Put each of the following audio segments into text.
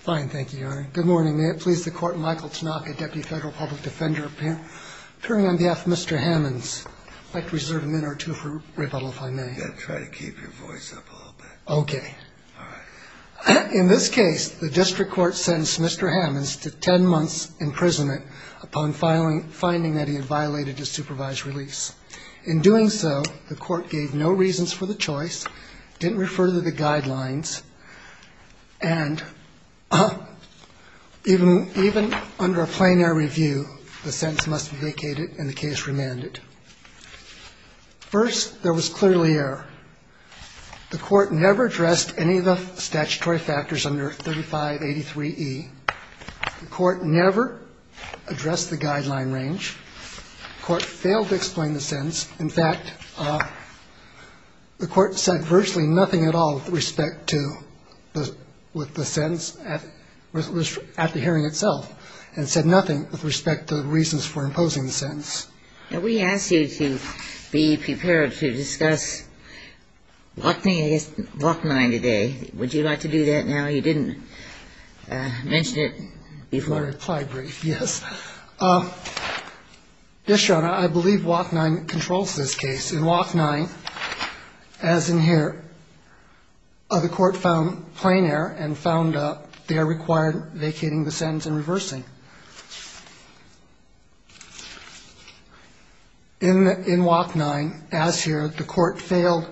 Fine. Thank you, Your Honor. Good morning. May it please the Court, Michael Tanaka, Deputy Federal Public Defender, appearing on behalf of Mr. Hammons. I'd like to reserve a minute or two for rebuttal, if I may. Yeah, try to keep your voice up a little bit. Okay. All right. In this case, the District Court sentenced Mr. Hammons to 10 months' imprisonment upon finding that he had violated his supervised release. In doing so, the Court gave no reasons for the choice, didn't refer to the guidelines, and even under a plein air review, the sentence must be vacated and the case remanded. First, there was clearly error. The Court never addressed any of the statutory factors under 3583e. The Court never addressed the guideline range. The Court failed to explain the sentence. In fact, the Court said virtually nothing at all with respect to the sentence at the hearing itself, and said nothing with respect to the reasons for imposing the sentence. Now, we asked you to be prepared to discuss WAC 9 today. Would you like to do that now? You didn't mention it before. My reply brief, yes. Yes, Your Honor, I believe WAC 9 controls this case. In WAC 9, as in here, the Court found plein air and found they are required vacating the sentence and reversing. In WAC 9, as here, the Court failed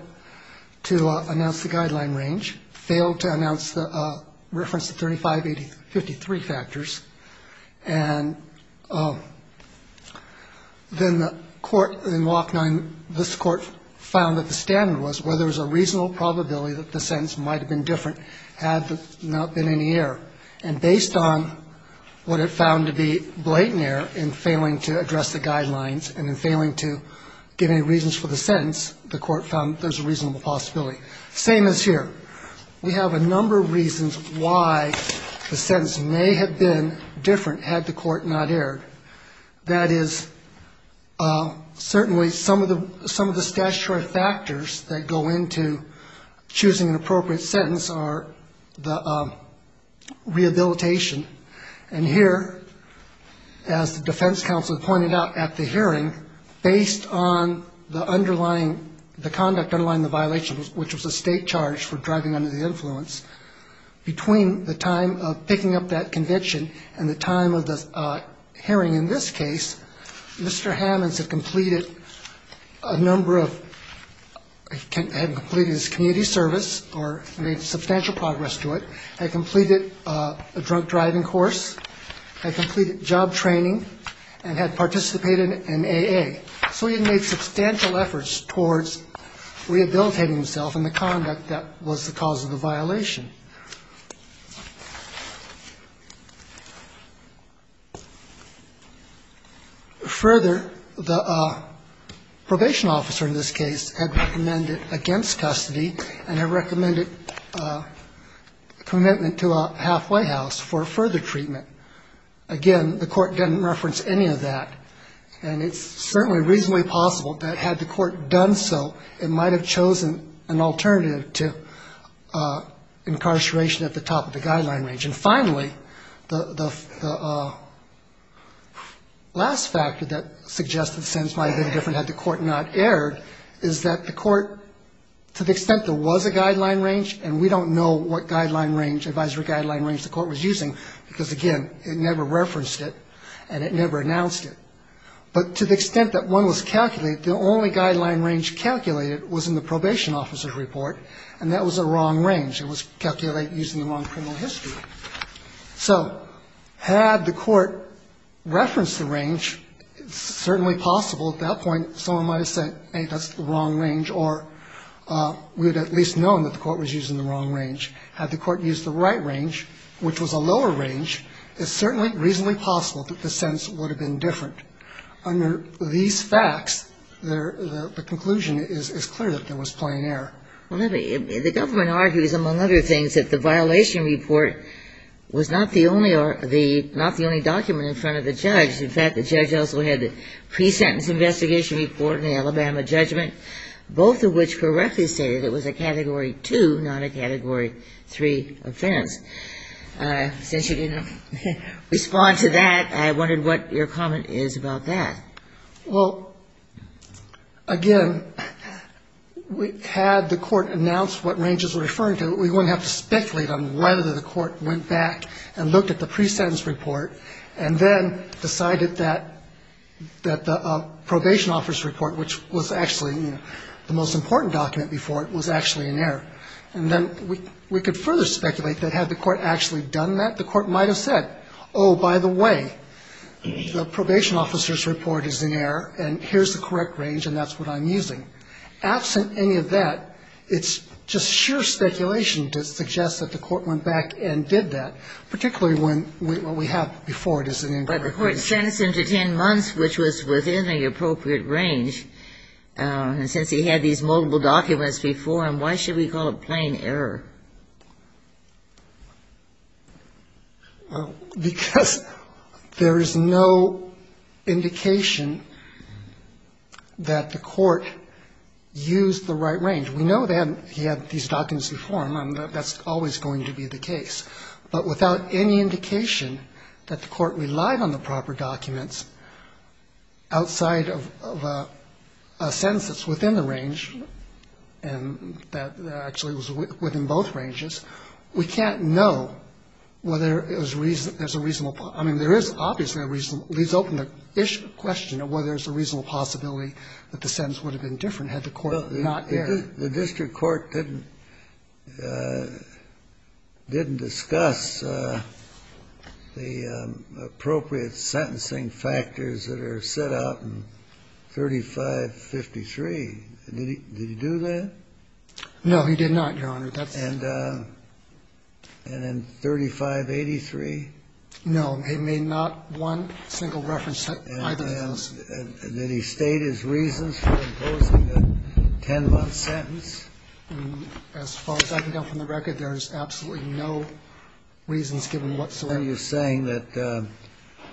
to announce the guideline range, failed to announce the reference to 3583 factors. And then the Court in WAC 9, this Court found that the standard was where there was a reasonable probability that the sentence might have been different had there not been any error. And based on what it found to be blatant error in failing to address the guidelines and in failing to give any reasons for the sentence, the Court found there's a reasonable possibility. Same as here. We have a number of reasons why the sentence may have been different had the Court not erred. That is, certainly some of the statutory factors that go into choosing an appropriate sentence are the rehabilitation. And here, as the defense counsel pointed out at the hearing, based on the underlying, the conduct underlying the violation, which was a state charge for driving under the influence, between the time of picking up that convention and the time of the hearing in this case, Mr. Hammons had completed a number of, had completed his community service or made substantial progress to it, had completed a drunk driving course, had completed job training, and had participated in AA. So he had made substantial efforts towards rehabilitating himself in the conduct that was the cause of the violation. Further, the probation officer in this case had recommended against custody and had recommended commitment to a half White House for further treatment. Again, the Court didn't reference any of that. And it's certainly reasonably possible that had the Court done so, it might have chosen an alternative to incarceration at the top of the guideline range. And finally, the last factor that suggests the sentence might have been different had the Court not erred is that the Court, to the extent there was a guideline range, and we don't know what guideline range, advisory guideline range the Court was using, because, again, it never referenced it and it never announced it, but to the extent that one was calculated, the only guideline range calculated was in the probation officer's report, and that was a wrong range. It was calculate using the wrong criminal history. So had the Court referenced the range, it's certainly possible at that point someone might have said, hey, that's the wrong range, or we would have at least known that the Court was using the wrong range. Had the Court used the right range, which was a lower range, it's certainly reasonably possible that the sentence would have been different. Under these facts, the conclusion is clear that there was plain error. Well, the government argues, among other things, that the violation report was not the only document in front of the judge. In fact, the judge also had the pre-sentence investigation report and the Alabama judgment, both of which correctly stated it was a Category 2, not a Category 3 offense. Since you didn't respond to that, I wondered what your comment is about that. Well, again, had the Court announced what ranges were referring to, we wouldn't have to speculate on whether the Court went back and looked at the pre-sentence report and then decided that the probation officer's report, which was actually the most important document before it, was actually in error. And then we could further speculate that had the Court actually done that, the Court might have said, oh, by the way, the probation officer's report is in error and here's the correct range and that's what I'm using. Absent any of that, it's just sheer speculation to suggest that the Court went back and did that, particularly when what we have before it is an incorrect range. The Court sent us into 10 months, which was within the appropriate range. Since he had these multiple documents before him, why should we call it plain error? Because there is no indication that the Court used the right range. We know that he had these documents before him. That's always going to be the case. But without any indication that the Court relied on the proper documents outside of a sentence that's within the range and that actually was within both ranges, we can't know whether there's a reasonable point. I mean, there is obviously a reasonable question of whether there's a reasonable possibility that the sentence would have been different had the Court not erred. The District Court didn't discuss the appropriate sentencing factors that are set out in 3553. Did he do that? No, he did not, Your Honor. And in 3583? No. It made not one single reference to either of those. Did he state his reasons for imposing a 10-month sentence? As far as I can tell from the record, there's absolutely no reasons given whatsoever. Are you saying that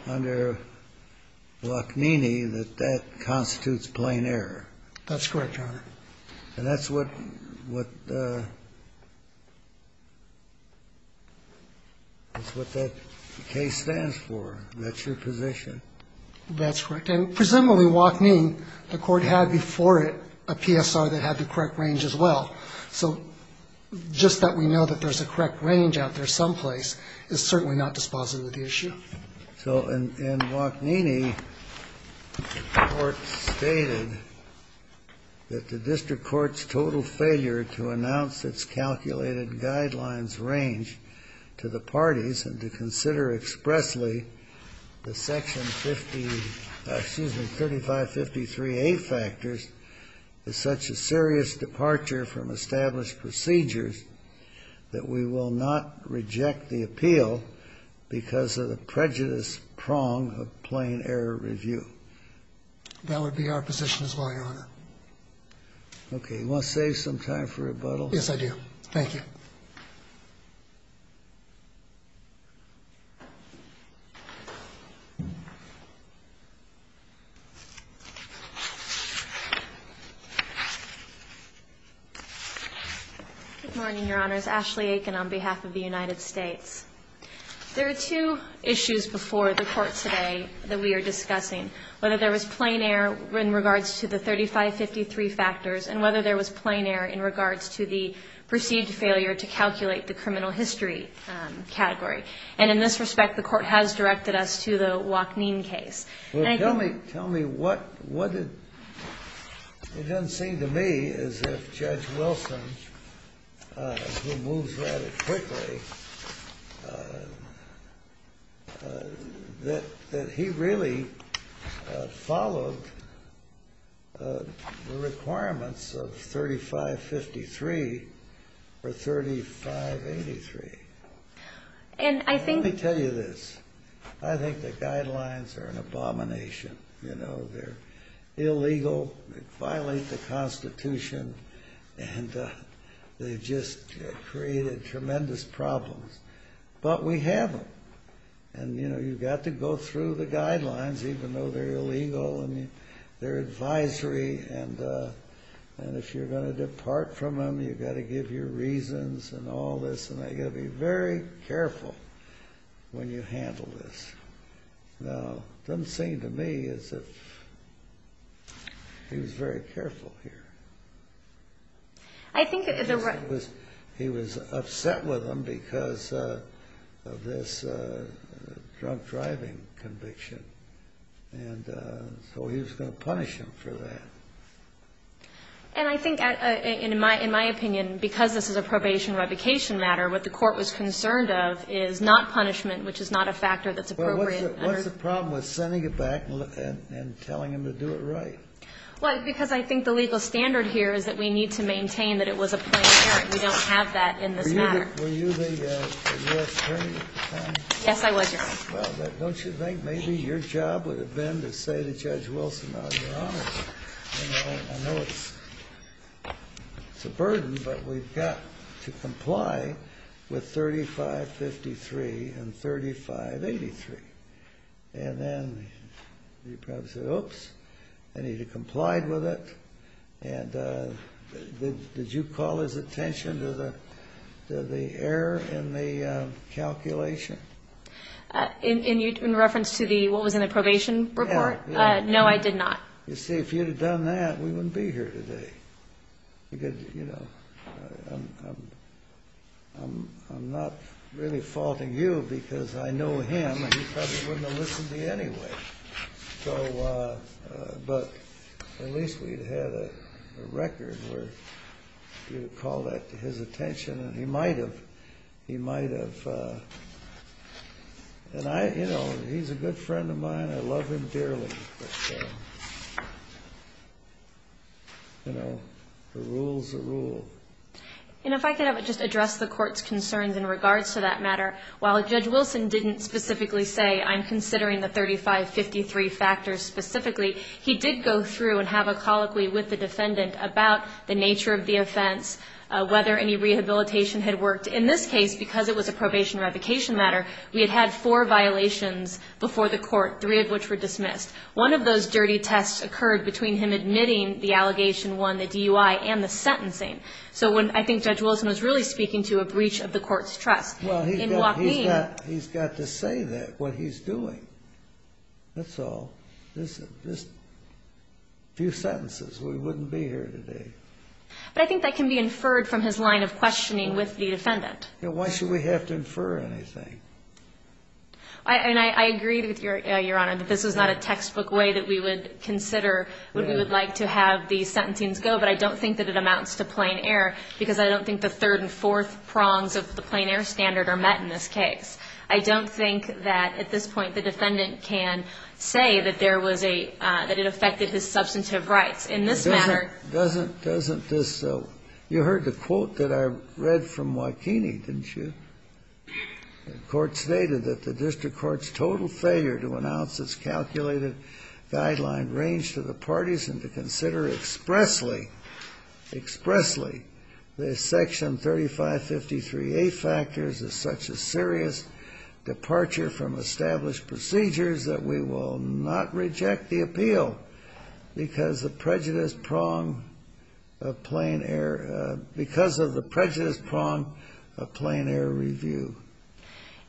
under Lockneeney, that that constitutes plain error? That's correct, Your Honor. And that's what that case stands for? That's your position? That's correct. And presumably Lockneene, the Court had before it a PSR that had the correct range as well. So just that we know that there's a correct range out there someplace is certainly not dispositive of the issue. So in Lockneeney, the Court stated that the District Court's total failure to announce its calculated guidelines range to the parties and to consider expressly the Section 3553A factors is such a serious departure from established procedures that we will not reject the appeal because of the prejudice prong of plain error review. That would be our position as well, Your Honor. Okay. You want to save some time for rebuttal? Yes, I do. Thank you. Good morning, Your Honors. Ashley Aiken on behalf of the United States. There are two issues before the Court today that we are discussing, whether there was plain error in regards to the 3553 factors and whether there was plain error in regards to the perceived failure to calculate the criminal history category. And in this respect, the Court has directed us to the Lockneene case. Tell me, it doesn't seem to me as if Judge Wilson, who moves rather quickly, that he really followed the requirements of 3553 or 3583. And I think... Let me tell you this. I think the guidelines are an abomination. You know, they're illegal, they violate the Constitution, and they've just created tremendous problems. But we have them. And, you know, you've got to go through the guidelines, even though they're illegal, and they're advisory. And if you're going to depart from them, you've got to give your reasons and all this. And you've got to be very careful when you handle this. Now, it doesn't seem to me as if he was very careful here. He was upset with them because of this drunk driving conviction. And so he was going to punish them for that. And I think, in my opinion, because this is a probation revocation matter, what the Court was concerned of is not punishment, which is not a factor that's appropriate. Well, what's the problem with sending it back and telling them to do it right? Well, because I think the legal standard here is that we need to maintain that it was a plain charge. We don't have that in this matter. Were you the U.S. attorney at the time? Yes, I was, Your Honor. Well, don't you think maybe your job would have been to say to Judge Wilson, Your Honor, I know it's a burden, but we've got to comply with 3553 and 3583. And then you'd probably say, oops, I need to comply with it. And did you call his attention to the error in the calculation? In reference to what was in the probation report? Yeah. No, I did not. You see, if you'd have done that, we wouldn't be here today. Because, you know, I'm not really faulting you because I know him, and he probably wouldn't have listened to you anyway. But at least we'd have had a record where you'd have called that to his attention. And he might have. He might have. And, you know, he's a good friend of mine. I love him dearly. You know, the rule's the rule. And if I could just address the Court's concerns in regards to that matter. While Judge Wilson didn't specifically say, I'm considering the 3553 factors specifically, he did go through and have a colloquy with the defendant about the nature of the offense, whether any rehabilitation had worked. In this case, because it was a probation revocation matter, we had had four violations before the Court, three of which were dismissed. One of those dirty tests occurred between him admitting the allegation won the DUI and the sentencing. So I think Judge Wilson was really speaking to a breach of the Court's trust. Well, he's got to say that, what he's doing. That's all. Just a few sentences, we wouldn't be here today. But I think that can be inferred from his line of questioning with the defendant. Why should we have to infer anything? And I agree with Your Honor that this is not a textbook way that we would consider what we would like to have the sentencing go. But I don't think that it amounts to plain error, because I don't think the third and fourth prongs of the plain error standard are met in this case. I don't think that, at this point, the defendant can say that there was a – that it affected his substantive rights. In this matter – Doesn't this – you heard the quote that I read from Wakini, didn't you? The court stated that the district court's total failure to announce its calculated guideline range to the parties and to consider expressly – expressly – the Section 3553A factors as such a serious departure from established procedures that we will not reject the appeal because the prejudice prong of plain error – because of the prejudice prong of plain error review.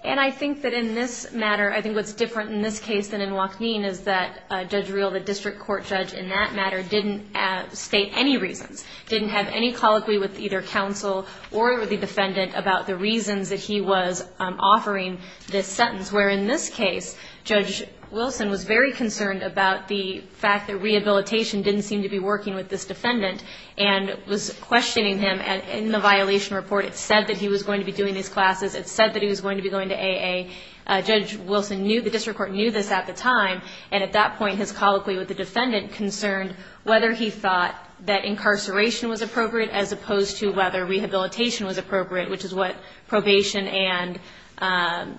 And I think that in this matter – I think what's different in this case than in Wakini is that Judge Reel, the district court judge, in that matter, didn't state any reasons, didn't have any colloquy with either counsel or the defendant about the reasons that he was offering this sentence. Where in this case, Judge Wilson was very concerned about the fact that rehabilitation didn't seem to be working with this defendant and was questioning him. And in the violation report, it said that he was going to be doing these classes. It said that he was going to be going to AA. Judge Wilson knew – the district court knew this at the time. And at that point, his colloquy with the defendant concerned whether he thought that incarceration was appropriate as opposed to whether rehabilitation was appropriate, which is what probation and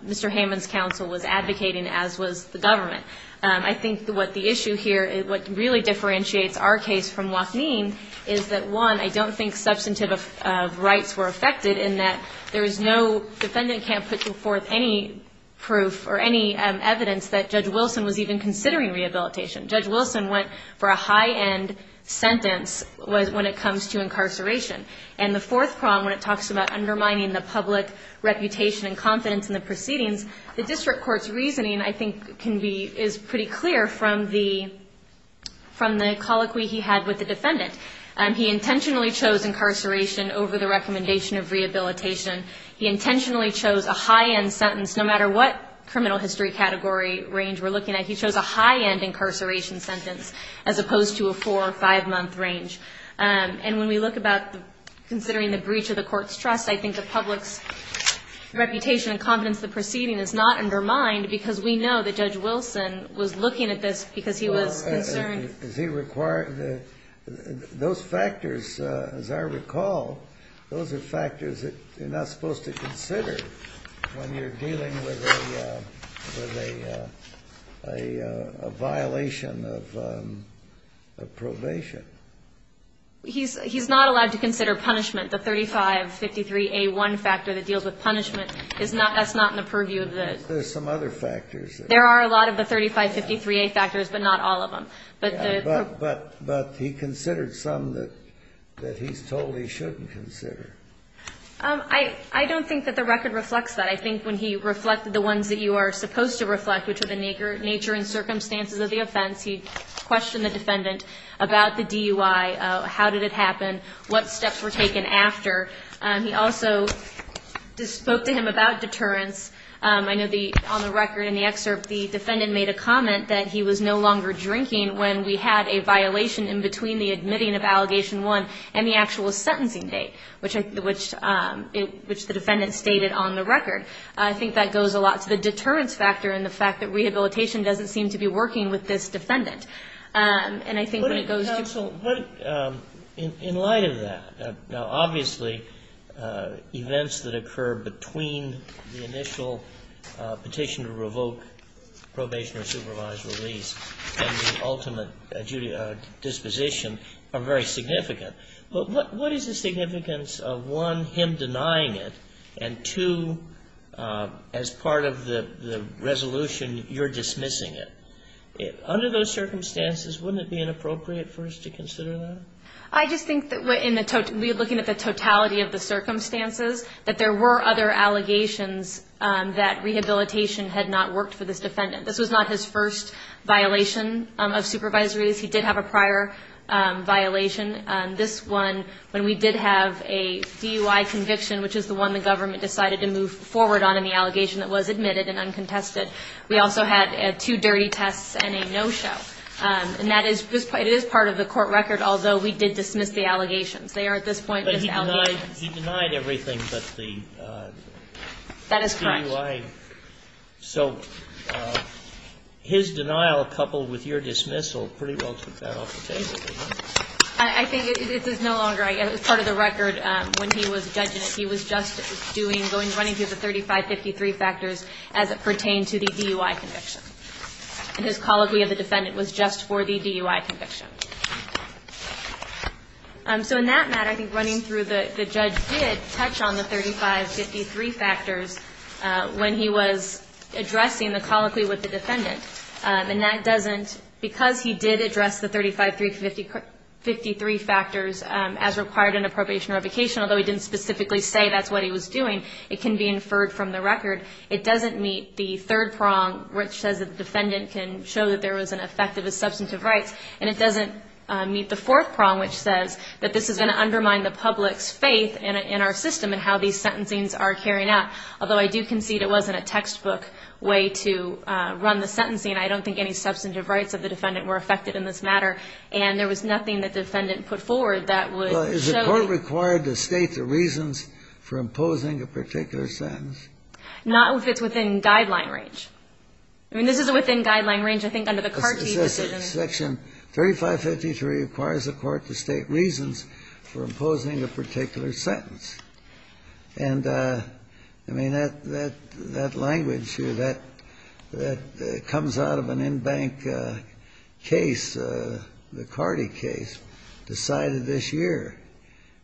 Mr. Hammond's counsel was advocating, as was the government. I think what the issue here – what really differentiates our case from Wakini is that, one, I don't think substantive rights were affected in that there is no – defendant can't put forth any proof or any evidence that Judge Wilson was even considering rehabilitation. Judge Wilson went for a high-end sentence when it comes to incarceration. And the fourth prong, when it talks about undermining the public reputation and confidence in the proceedings, the district court's reasoning, I think, can be – is pretty clear from the – from the colloquy he had with the defendant. He intentionally chose incarceration over the recommendation of rehabilitation. He intentionally chose a high-end sentence. No matter what criminal history category range we're looking at, he chose a high-end incarceration sentence as opposed to a four- or five-month range. And when we look about considering the breach of the court's trust, I think the public's reputation and confidence in the proceeding is not undermined because we know that Judge Wilson was looking at this because he was concerned. Does he require – those factors, as I recall, those are factors that you're not supposed to consider when you're dealing with a violation of probation. He's not allowed to consider punishment. The 3553A1 factor that deals with punishment is not – that's not in the purview of the – There's some other factors. There are a lot of the 3553A factors, but not all of them. But he considered some that he's told he shouldn't consider. I don't think that the record reflects that. I think when he reflected the ones that you are supposed to reflect, which are the nature and circumstances of the offense, he questioned the defendant about the DUI, how did it happen, what steps were taken after. He also spoke to him about deterrence. I know the – on the record in the excerpt, the defendant made a comment that he was no longer drinking when we had a violation in between the admitting of Allegation 1 and the actual sentencing date, which the defendant stated on the record. I think that goes a lot to the deterrence factor and the fact that rehabilitation doesn't seem to be working with this defendant. And I think when it goes to – Counsel, in light of that, now, obviously, events that occur between the initial petition to revoke probation or supervised release and the ultimate disposition are very significant. But what is the significance of, one, him denying it, and, two, as part of the resolution, you're dismissing it? Under those circumstances, wouldn't it be inappropriate for us to consider that? I just think that we're looking at the totality of the circumstances, that there were other allegations that rehabilitation had not worked for this defendant. This was not his first violation of supervisory release. He did have a prior violation. This one, when we did have a DUI conviction, which is the one the government decided to move forward on in the allegation that was admitted and uncontested, we also had two dirty tests and a no-show. And that is part of the court record, although we did dismiss the allegations. They are at this point misalleged. But he denied everything but the DUI. That is correct. So his denial coupled with your dismissal pretty well took that off the table, didn't it? I think it is no longer part of the record when he was judging it. He was just doing – running through the 3553 factors as it pertained to the DUI conviction. His colloquy of the defendant was just for the DUI conviction. So in that matter, I think running through the judge did touch on the 3553 factors when he was addressing the colloquy with the defendant. And that doesn't – because he did address the 3553 factors as required in a probation or revocation, although he didn't specifically say that's what he was doing, it can be inferred from the record. It doesn't meet the third prong, which says that the defendant can show that there was an effect of his substantive rights. And it doesn't meet the fourth prong, which says that this is going to undermine the public's faith in our system and how these sentencings are carrying out. Although I do concede it wasn't a textbook way to run the sentencing. I don't think any substantive rights of the defendant were affected in this matter. And there was nothing that the defendant put forward that would show – Well, is the court required to state the reasons for imposing a particular sentence? Not if it's within guideline range. I mean, this is within guideline range, I think, under the CARTI decision. Section 3553 requires the court to state reasons for imposing a particular sentence. And, I mean, that language here, that comes out of an in-bank case, the CARTI case, decided this year.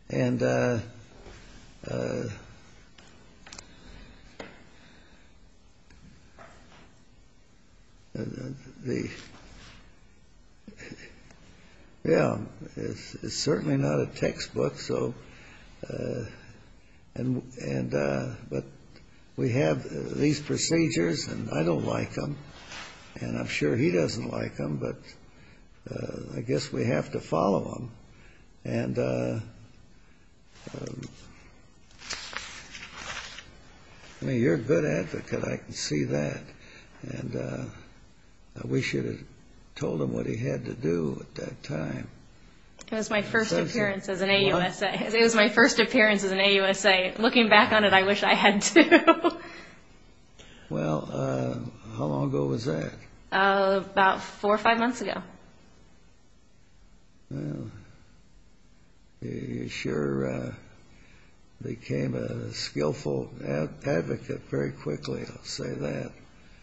And the – yeah. It's certainly not a textbook. So – and – but we have these procedures, and I don't like them. And I'm sure he doesn't like them. But I guess we have to follow them. And, I mean, you're a good advocate. I can see that. And I wish you had told him what he had to do at that time. It was my first appearance as an AUSA. It was my first appearance as an AUSA. Looking back on it, I wish I had, too. Well, how long ago was that? About four or five months ago. Well, you sure became a skillful advocate very quickly, I'll say that.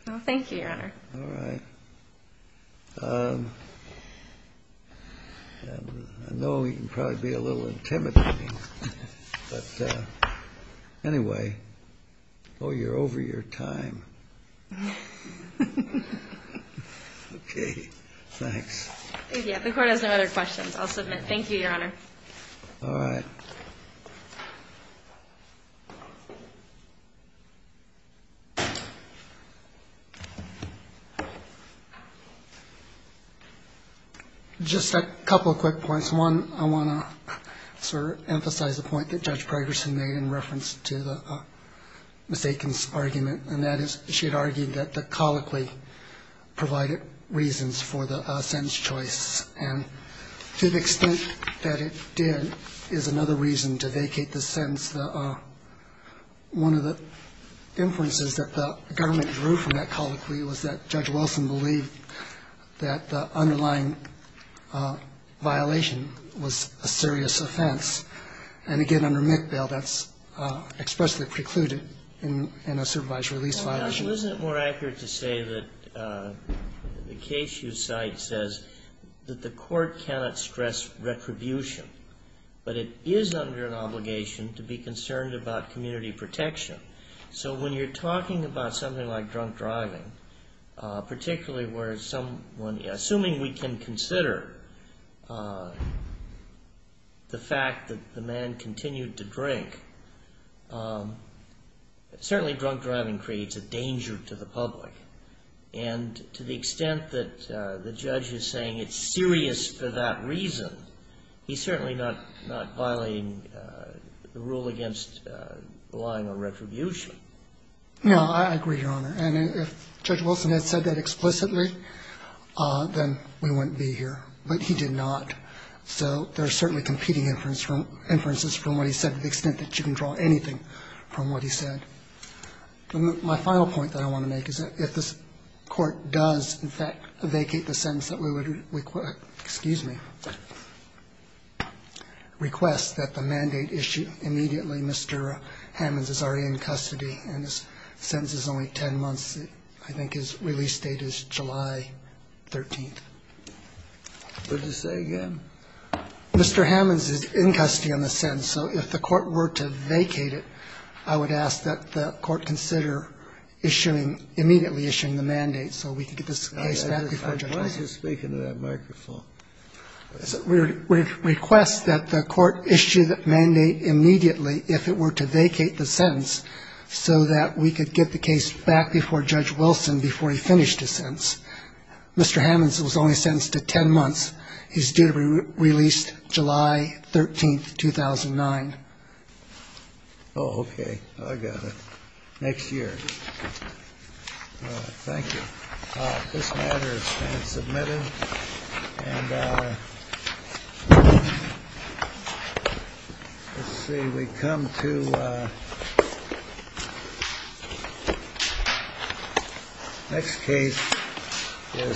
Well, thank you, Your Honor. All right. I know you can probably be a little intimidating. But anyway, oh, you're over your time. Okay. Thanks. Yeah. The Court has no other questions. I'll submit. Thank you, Your Honor. All right. Just a couple of quick points. One, I want to sort of emphasize a point that Judge Progerson made in reference to Ms. Aiken's argument, and that is she had argued that the colloquy provided reasons for the sentence choice. And to the extent that it did is another reason to vacate the sentence. One of the inferences that the government drew from that colloquy was that Judge Wilson believed that the underlying violation was a serious offense. And, again, under McBail, that's expressly precluded in a supervised release violation. Well, now, isn't it more accurate to say that the case you cite says that the court cannot stress retribution, but it is under an obligation to be concerned about community protection. So when you're talking about something like drunk driving, particularly where someone, assuming we can consider the fact that the man continued to drink, certainly drunk driving creates a danger to the public. And to the extent that the judge is saying it's serious for that reason, he's certainly not violating the rule against relying on retribution. No, I agree, Your Honor. And if Judge Wilson had said that explicitly, then we wouldn't be here. But he did not. So there are certainly competing inferences from what he said to the extent that you can draw anything from what he said. My final point that I want to make is that if this Court does in fact vacate the sentence that we would request, excuse me, request that the mandate issue immediately, Mr. Hammons is already in custody, and his sentence is only 10 months. I think his release date is July 13th. Would you say again? Mr. Hammons is in custody on the sentence. So if the Court were to vacate it, I would ask that the Court consider issuing immediately, issuing the mandate, so we could get this case back before Judge Wilson. I was just speaking to that microphone. We would request that the Court issue the mandate immediately if it were to vacate the sentence so that we could get the case back before Judge Wilson before he finished his sentence. Mr. Hammons was only sentenced to 10 months. His date of release, July 13th, 2009. Oh, okay. I got it. Next year. Thank you. This matter has been submitted. And let's see. We come to the next case. It's North Carolina.